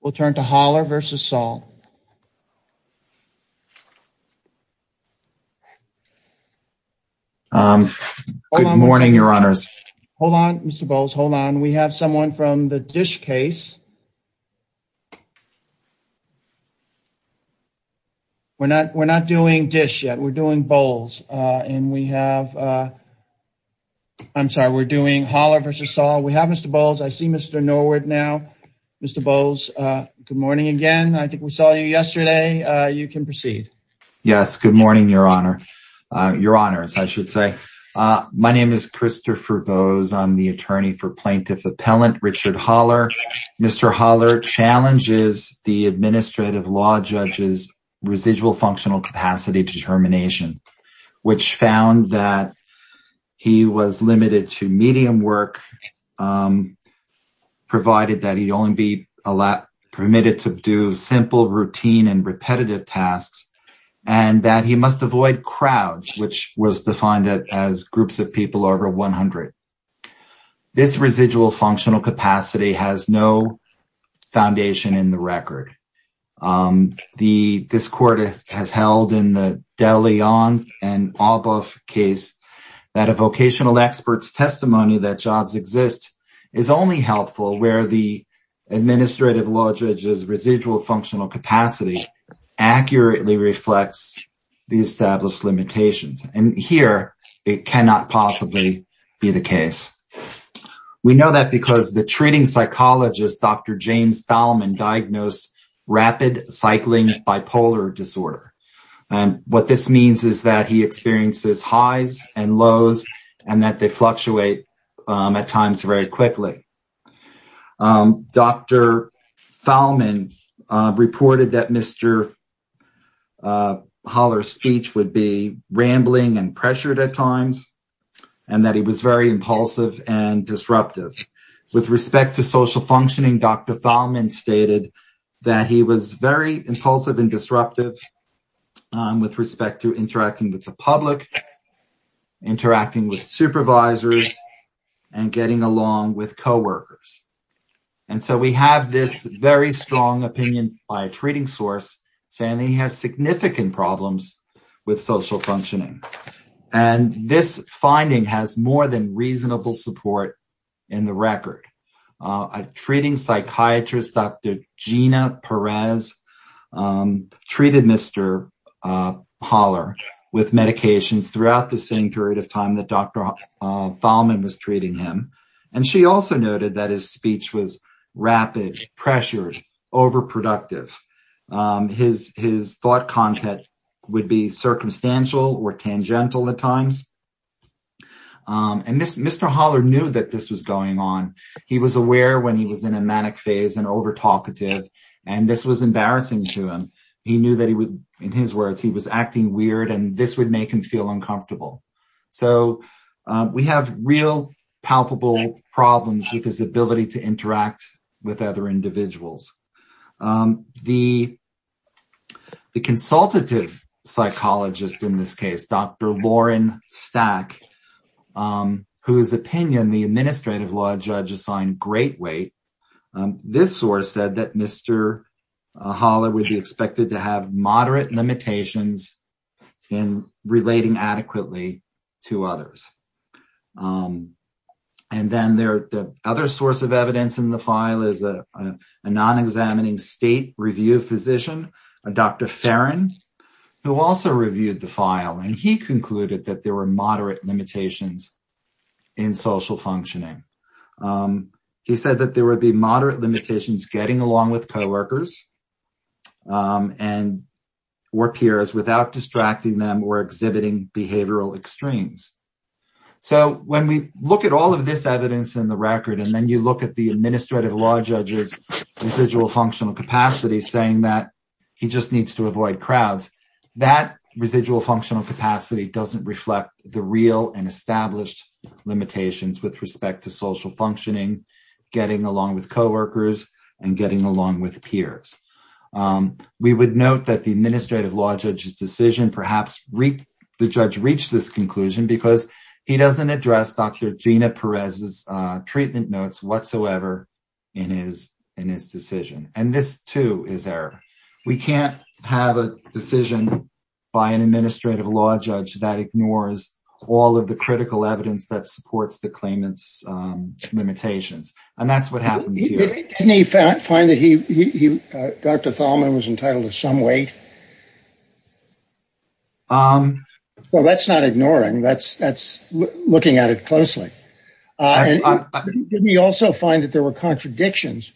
We'll turn to Holler v. Saul. Good morning, your honors. Hold on, Mr. Bowles. Hold on. We have someone from the dish case. We're not we're not doing dish yet. We're doing bowls and we have I'm sorry. We're doing Holler v. Saul. We have Mr. Bowles. I see Mr. Norwood now. Mr. Bowles. Good morning again. I think we saw you yesterday. You can proceed. Yes. Good morning. Your honor, your honors. I should say my name is Christopher bows. I'm the attorney for plaintiff appellant Richard Holler. Mr. Holler challenges the administrative law judges residual functional capacity determination, which found that he was limited to medium work provided that he only be allowed permitted to do simple routine and repetitive tasks and that he must avoid crowds, which was defined as groups of people over 100. This residual functional capacity has no foundation in the record. The this court has held in the De Leon and all both case that a vocational experts testimony that jobs exist is only helpful where the administrative law judges residual functional capacity accurately reflects the established limitations and here it cannot possibly be the case. We know that because the treating psychologist. Dr. James Thalman diagnosed rapid cycling bipolar disorder and what this means is that he experiences highs and lows and that they fluctuate at times very quickly. Dr. Thalman reported that Mr. Holler speech would be rambling and pressured at times and that he was very impulsive and disruptive with respect to social functioning. Dr. Thalman stated that he was very impulsive and disruptive with respect to interacting with the public interacting with supervisors and getting along with co-workers. And so we have this very strong opinion by a treating source saying he has significant problems with social functioning and this finding has more than reasonable support in the record a treating psychiatrist. Dr. Gina Perez treated Mr. Holler with medications throughout the same period of time that Dr. Thalman was treating him and she also noted that his speech was rapid pressures overproductive. His thought content would be circumstantial or tangential at times. And this Mr. Holler knew that this was going on. He was aware when he was in a manic phase and over talkative and this was embarrassing to him. He knew that he would in his words. He was acting weird and this would make him feel uncomfortable. So we have real palpable problems with his ability to interact with other individuals. The the consultative psychologist in this case, Dr. Judge assigned great weight. This source said that Mr. Holler would be expected to have moderate limitations in relating adequately to others. And then there the other source of evidence in the file is a non-examining state review physician, Dr. Ferrand, who also reviewed the file and he concluded that there were moderate limitations in social functioning. He said that there would be moderate limitations getting along with co-workers and or peers without distracting them or exhibiting behavioral extremes. So when we look at all of this evidence in the record and then you look at the administrative law judges residual functional capacity saying that he just needs to avoid crowds that residual functional capacity doesn't reflect the real and established limitations with respect to social functioning getting along with co-workers and getting along with peers. We would note that the administrative law judges decision perhaps reap the judge reach this conclusion because he doesn't address. Dr. Gina Perez's treatment notes whatsoever in his in his decision and this too is error. We can't have a decision by an administrative law judge that ignores all of the critical evidence that supports the claimants limitations and that's what happens here. Can he found find that he Dr. Thalman was entitled to some weight. Well, that's not ignoring that's that's looking at it closely. Didn't he also find that there were contradictions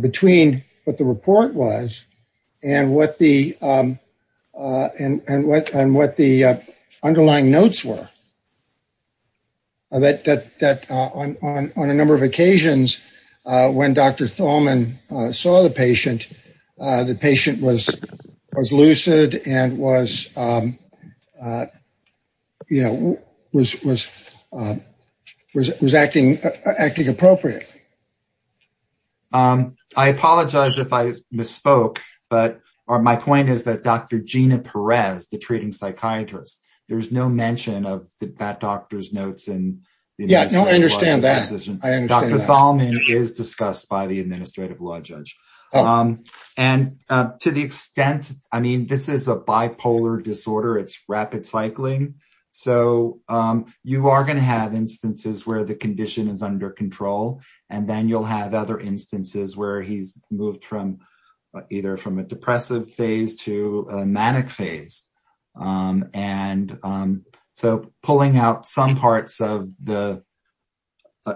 between what the report was and what the and what and what the underlying notes were. That that that on a number of occasions when Dr. Thalman saw the patient the patient was was lucid and was you know, was was was acting acting appropriately. I apologize if I misspoke but are my point is that Dr. Gina Perez the treating psychiatrist. There's no mention of the bad doctor's notes and yeah, I don't understand that I understand Dr. Thalman is discussed by the administrative law judge and to the extent. I mean, this is a bipolar disorder. It's rapid cycling. So you are going to have instances where the condition is under control and then you'll have other instances where he's moved from either from a depressive phase to manic phase and so pulling out some parts of the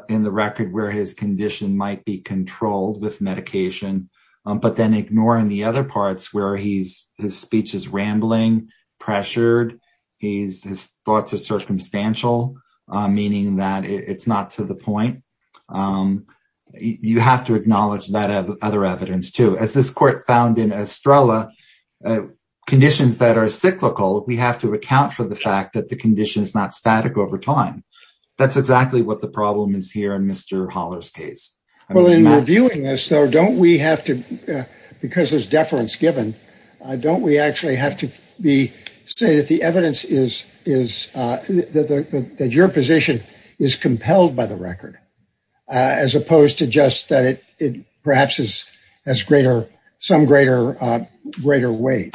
in the record where his condition might be controlled with medication, but then ignoring the other parts where he's his speech is rambling pressured. He's his thoughts of circumstantial meaning that it's not to the point. You have to acknowledge that other evidence to as this court found in Estrella conditions that are cyclical. We have to account for the fact that the condition is not static over time. That's exactly what the problem is here in Mr. Holler's case. Well in reviewing this though, don't we have to because there's deference given don't we actually have to be say that the evidence is is that your position is compelled by the record as opposed to just that it perhaps is as greater some greater greater weight.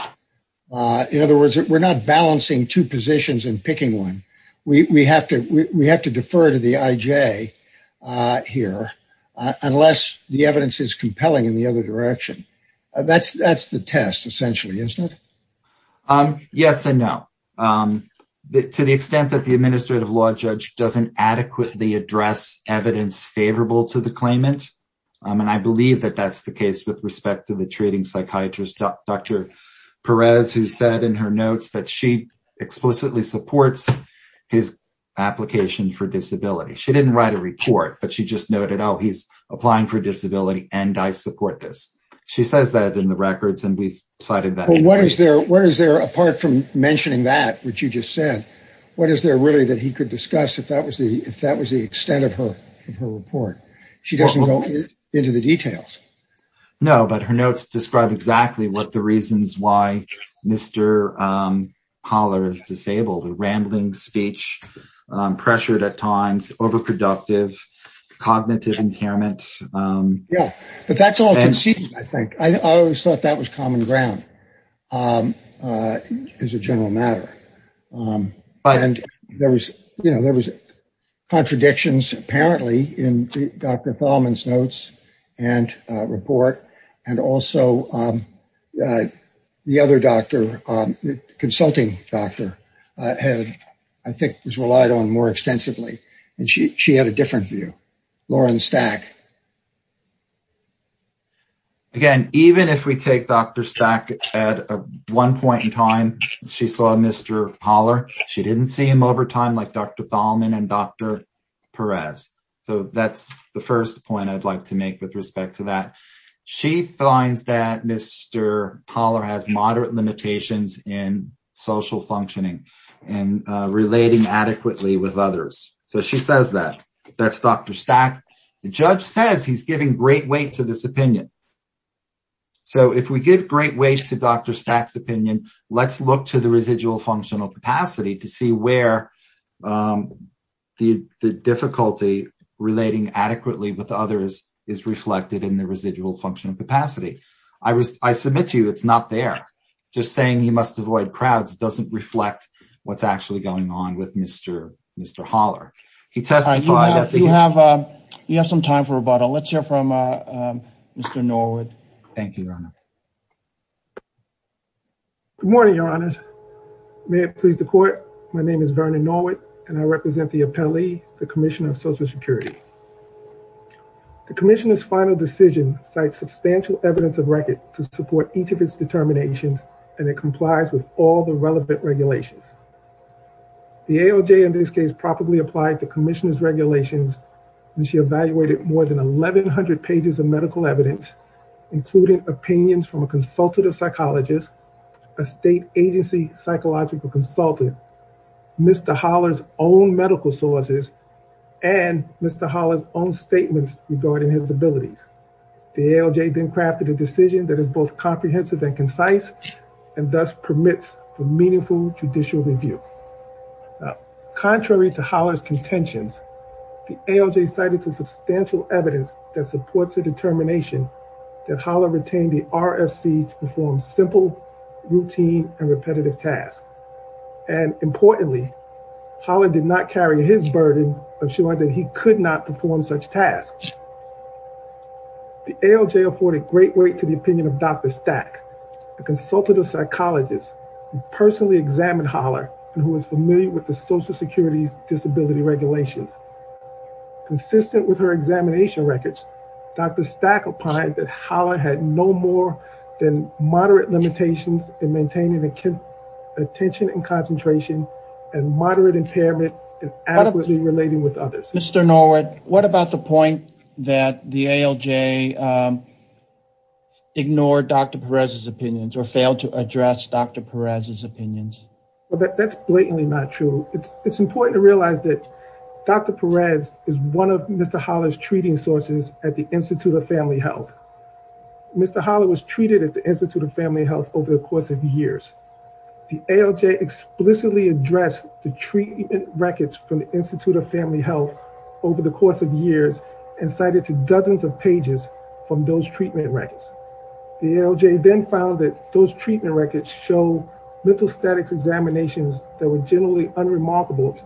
In other words, we're not balancing two positions and picking one. We have to we have to defer to the IJ here unless the evidence is compelling in the other direction. That's that's the test essentially, isn't it? Yes, and no. To the extent that the administrative law judge doesn't adequately address evidence favorable to the claimant and I believe that that's the case with respect to the treating psychiatrist. Dr. Perez who said in her notes that she explicitly supports his application for disability. She didn't write a report, but she just noted. Oh, he's applying for disability and I support this. She says that in the records and we've cited that what is there? What is there apart from mentioning that which you just said? What is there really that he could discuss if that was the if that was the extent of her in her report. She doesn't go into the details. No, but her notes describe exactly what the reasons why Mr. Holler is disabled and rambling speech pressured at times overproductive cognitive impairment. Yeah, but that's all I think I always thought that was common ground. As a general matter, but and there was, you know, there was contradictions apparently in Dr. Fallman's notes and report and also the other doctor consulting doctor had I think was relied on more extensively and she had a different view Lauren stack. Again, even if we take Dr. Stack at one point in time, she saw Mr. Holler. She didn't see him over time like Dr. Fallman and Dr. Perez. So that's the first point I'd like to make with respect to that. She finds that Mr. Holler has moderate limitations in social functioning and relating adequately with others. So she says that that's Dr. Stack. The judge says he's giving great weight to this opinion. So if we give great weight to Dr. Stack's opinion, let's look to the residual functional capacity to see where the difficulty relating adequately with others is reflected in the residual functional capacity. I was I submit to you. It's not there just saying he must avoid crowds doesn't reflect what's actually going on with Mr. Mr. Holler. He testified you have you have some time for rebuttal. Let's hear from Mr. Norwood. Thank you, Your Honor. Good morning, Your Honor's may it please the court. My name is Vernon Norwood and I represent the appellee the Commissioner of Social Security. The commissioners final decision cites substantial evidence of record to support each of its determinations and it complies with all the relevant regulations. The ALJ in this case properly applied the commissioners regulations and she evaluated more than 1100 pages of medical evidence including opinions from a consultative psychologist, a state agency psychological consultant, Mr. Holler's own medical sources and Mr. Holler's own statements regarding his abilities. The ALJ then crafted a decision that is both comprehensive and concise and thus permits for meaningful judicial review. Contrary to Holler's contentions, the ALJ cited to substantial evidence that supports the determination that Holler retained the RFC to perform simple routine and repetitive tasks and importantly Holler did not carry his burden of showing that he could not perform such tasks. The ALJ afforded great weight to the opinion of Dr. Stack, a consultative psychologist who personally examined Holler and who is familiar with the Social Security's disability regulations. Consistent with her examination records, Dr. Stack opined that Holler had no more than moderate limitations in maintaining attention and concentration and moderate impairment in adequately relating with others. Mr. Norwood, what about the point that the ALJ ignored Dr. Perez's opinions or failed to address Dr. Perez's opinions? Well, that's blatantly not true. It's important to realize that Dr. Perez is one of Mr. Holler's treating sources at the Institute of Family Health. Mr. Holler was treated at the Institute of Family Health over the course of years. The ALJ explicitly addressed the treatment records from the Institute of Family Health over the course of years and cited to dozens of pages from those treatment records. The ALJ then found that those treatment records show mental statics examinations that were generally unremarkable,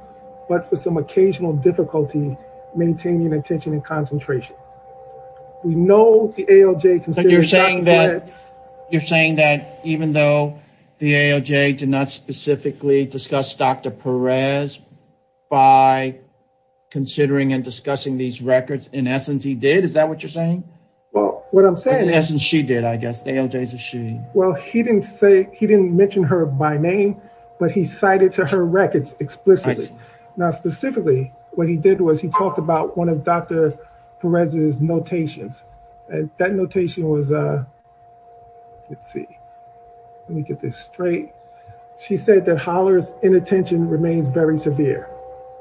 but for some occasional difficulty maintaining attention and concentration. We know the ALJ considers Dr. Perez... You're saying that even though the ALJ did not specifically discuss Dr. Perez's treatment records, the ALJ was considering and discussing these records in essence, he did? Is that what you're saying? Well, what I'm saying is... In essence, she did, I guess. The ALJ is a she. Well, he didn't mention her by name, but he cited to her records explicitly. Now, specifically, what he did was he talked about one of Dr. Perez's notations and that notation was, let's see, let me get this straight. She said that hollers inattention remains very severe.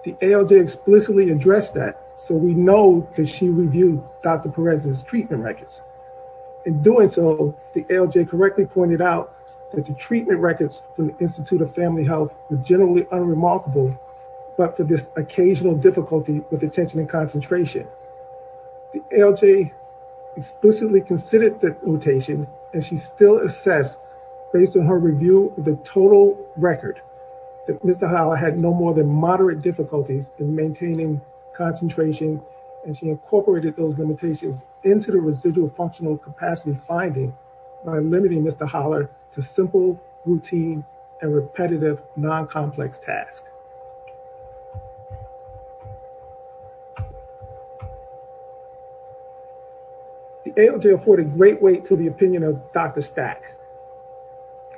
The ALJ explicitly addressed that, so we know that she reviewed Dr. Perez's treatment records. In doing so, the ALJ correctly pointed out that the treatment records from the Institute of Family Health were generally unremarkable, but for this occasional difficulty with attention and concentration. The ALJ explicitly considered that notation and she still assessed, based on her review, the total record that Mr. Holler had no more than moderate difficulties in maintaining concentration and she incorporated those limitations into the residual functional capacity finding by limiting Mr. Holler to simple, routine, and repetitive non-complex tasks. The ALJ afforded great weight to the opinion of Dr. Stack.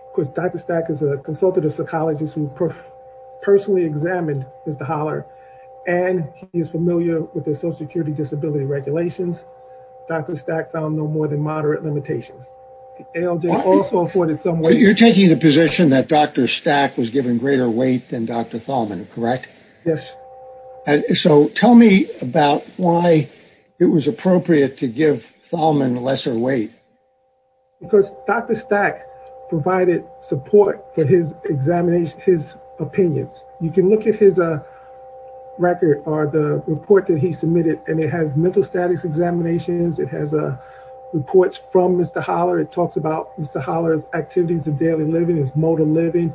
Of course, Dr. Stack is a consultative psychologist who personally examined Mr. Holler and he is familiar with the social security disability regulations. Dr. Stack found no more than moderate limitations. The ALJ also afforded some weight. You're taking the position that Dr. Stack was given greater weight than Dr. Thalman, correct? Yes. So tell me about why it was appropriate to give Thalman lesser weight. Because Dr. Stack provided support for his opinions. You can look at his record or the report that he submitted and it has mental status examinations. It has reports from Mr. Holler. It talks about Mr. Holler's activities of daily living, his mode of living,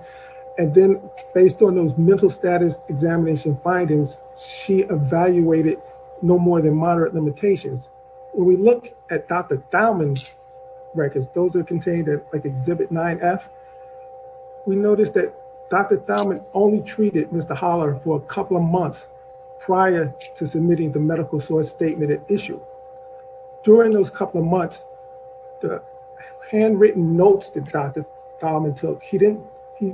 and then based on those mental status examination findings, she evaluated no more than moderate limitations. When we look at Dr. Thalman's records, those are contained in like exhibit 9F. We noticed that Dr. Thalman only treated Mr. Holler for a couple of months prior to submitting the medical source statement at issue. During those couple of months, the handwritten notes that Dr. Thalman took, he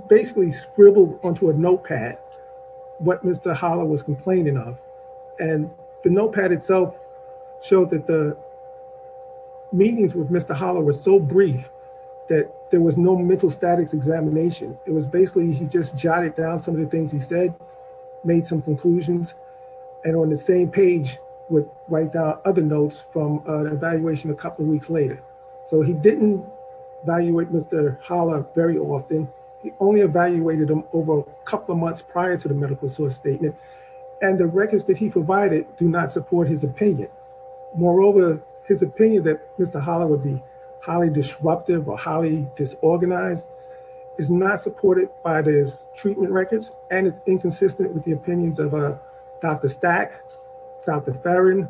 basically scribbled onto a notepad what Mr. Holler was complaining of. And the notepad itself showed that the meetings with Mr. Holler were so brief that there was no mental status examination. It was basically he just jotted down some of the things he said, made some conclusions, and on the same page would write down other notes from evaluation a couple of weeks later. So he didn't evaluate Mr. Holler very often. He only evaluated him over a couple of months prior to the medical source statement, and the records that he provided do not support his opinion. Moreover, his opinion that Mr. Holler would be highly disruptive or highly disorganized is not supported by his treatment records, and it's inconsistent with the opinions of Dr. Stack, Dr. Farron,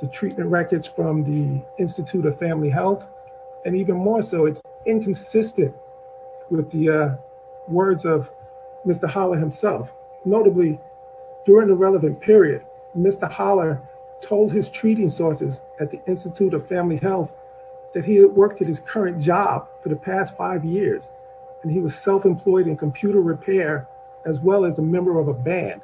the treatment records from the Institute of Family Health, and even more so, it's inconsistent with the words of Mr. Holler himself. Notably, during the relevant period, Mr. Holler told his treating sources at the Institute of Family Health that he had worked at his current job for the past five years, and he was self-employed in computer repair as well as a member of a band.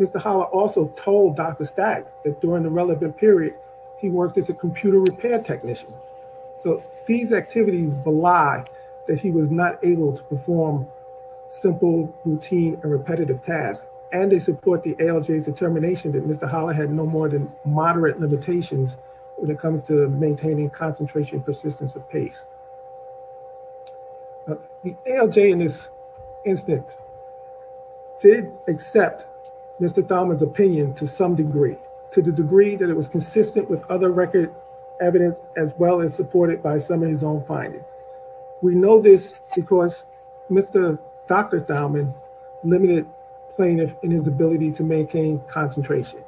Mr. Holler also told Dr. Stack that during the relevant period, he worked as a computer repair technician. So these activities belie that he was not able to perform simple routine and repetitive tasks, and they support the ALJ's determination that Mr. Holler had no more than moderate limitations when it comes to maintaining concentration and persistence of pace. The ALJ in this instance did accept Mr. Thalman's opinion to some degree, to the degree that it was consistent with other record evidence as well as supported by some of his own findings. We know this because Mr. Dr. Thalman limited plaintiff in his ability to maintain concentration.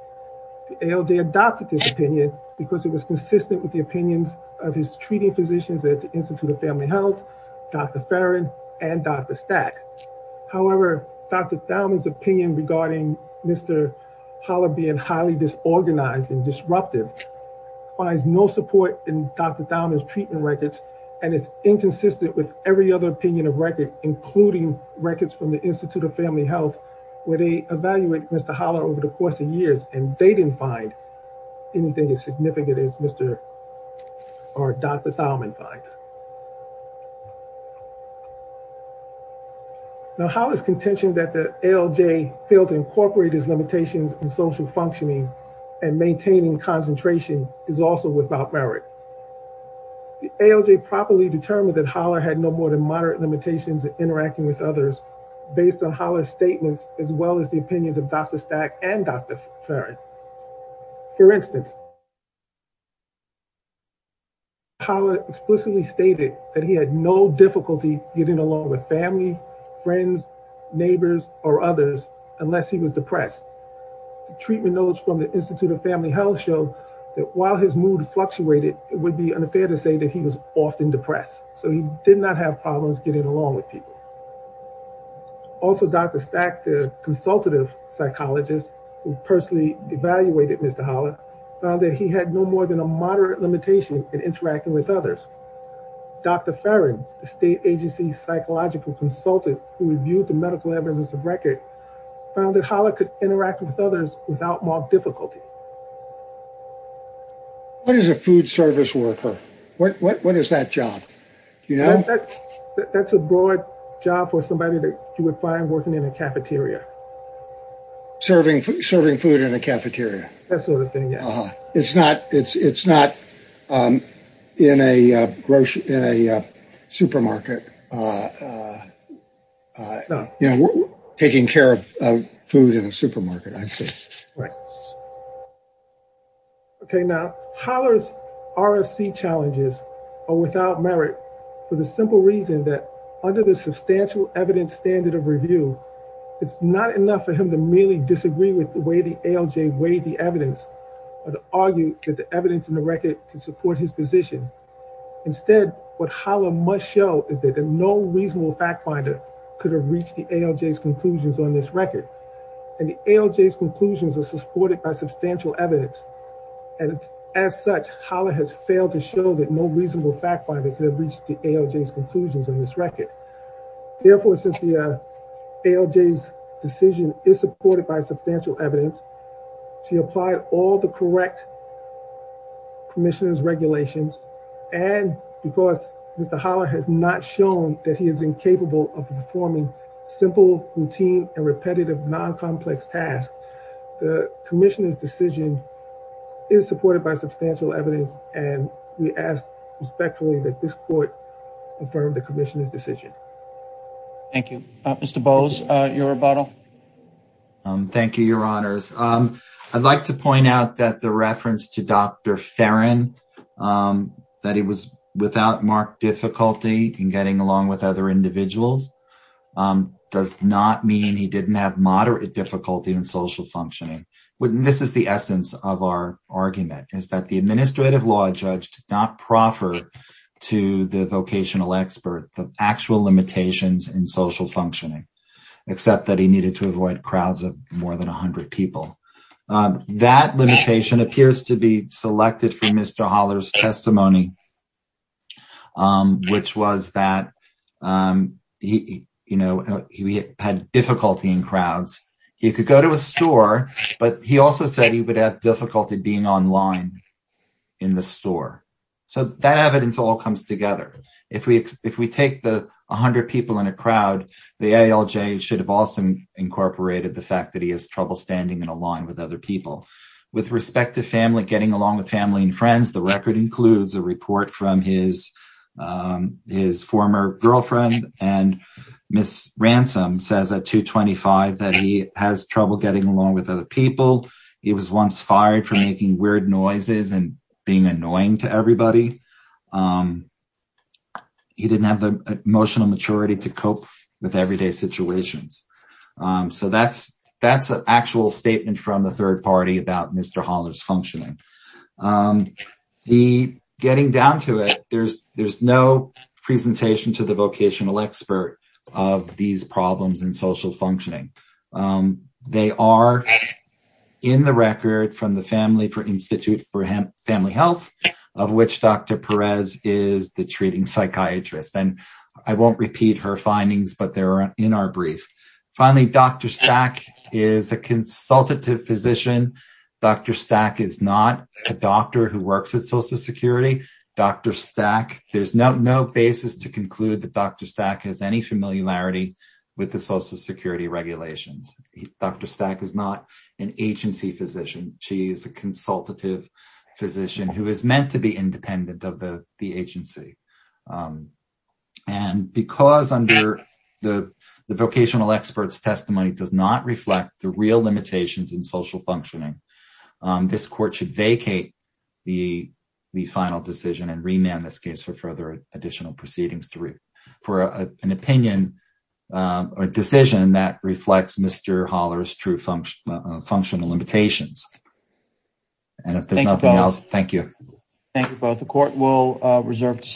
The ALJ adopted his opinion because it was consistent with the opinions of his treating physicians at the Institute of Family Health, Dr. Farron, and Dr. Stack. However, Dr. Thalman's opinion regarding Mr. Holler being highly disorganized and disruptive finds no support in Dr. inconsistent with every other opinion of record, including records from the Institute of Family Health, where they evaluate Mr. Holler over the course of years, and they didn't find anything as significant as Dr. Thalman finds. Now, how is contention that the ALJ failed to incorporate his limitations in social functioning and maintaining concentration is also without merit? The ALJ properly determined that Holler had no more than moderate limitations in interacting with others based on Holler's statements as well as the opinions of Dr. Stack and Dr. Farron. For instance, Holler explicitly stated that he had no difficulty getting along with family, friends, neighbors, or others unless he was depressed. Treatment notes from the Institute of Family Health show that while his mood fluctuated, it would be unfair to say that he was often depressed, so he did not have problems getting along with people. Also, Dr. Stack, the consultative psychologist who personally evaluated Mr. Holler, found that he had no more than a moderate limitation in interacting with others. Dr. Farron, the state agency psychological consultant who reviewed the medical evidence of record, found that Holler could interact with others without more difficulty. What is a food service worker? What is that job? You know, that's a broad job for somebody that you would find working in a cafeteria. Serving food in a cafeteria. That sort of thing, yeah. It's not in a supermarket. You know, taking care of food in a supermarket, I see. Right. Okay, now, Holler's RFC challenges are without merit for the simple reason that under the substantial evidence standard of review, it's not enough for him to merely disagree with the way the ALJ weighed the evidence or to argue that the evidence in the record can support his position. Instead, what Holler must show is that no reasonable fact finder could have reached the ALJ's conclusions on this record. And the ALJ's conclusions are supported by substantial evidence. And as such, Holler has failed to show that no reasonable fact finder could have reached the ALJ's conclusions on this record. Therefore, since the ALJ's decision is supported by substantial evidence, she applied all the correct commissioners regulations. And because Mr. Holler has not shown that he is incapable of performing simple routine and non-complex tasks, the commissioner's decision is supported by substantial evidence. And we ask respectfully that this court confirm the commissioner's decision. Thank you. Mr. Bowes, your rebuttal. Thank you, Your Honors. I'd like to point out that the reference to Dr. Ferrin, that he was without marked difficulty in getting along with other individuals, does not mean he didn't have moderate difficulty in social functioning. This is the essence of our argument, is that the administrative law judge did not proffer to the vocational expert the actual limitations in social functioning, except that he needed to avoid crowds of more than a hundred people. That limitation appears to be selected from Mr. Holler's testimony, which was that he, you know, he had difficulty in crowds, he could go to a store, but he also said he would have difficulty being online in the store. So that evidence all comes together. If we, if we take the a hundred people in a crowd, the ALJ should have also incorporated the fact that he has trouble standing in a line with other people. With respect to family, getting along with family and friends, the record includes a report from his, his former girlfriend and Ms. Ransom says at 225 that he has trouble getting along with other people. He was once fired for making weird noises and being annoying to everybody. He didn't have the emotional maturity to cope with everyday situations. So that's, that's an actual statement from the third party about Mr. Holler's functioning. The, getting down to it, there's, there's no presentation to the vocational expert of these problems in social functioning. They are in the record from the Family for Institute for Family Health, of which Dr. Perez is the treating psychiatrist. And I won't repeat her findings, but they're in our brief. Finally, Dr. Stack is a consultative physician. Dr. Stack is not a doctor who works at Social Security. Dr. Stack, there's no basis to conclude that Dr. Stack has any familiarity with the Social Security regulations. Dr. Stack is not an agency physician. She is a consultative physician who is meant to be independent of the agency. And because under the vocational experts testimony does not reflect the real functioning, this court should vacate the final decision and remand this case for further additional proceedings to read for an opinion or decision that reflects Mr. Holler's true functional limitations. And if there's nothing else, thank you. Thank you both. The court will reserve.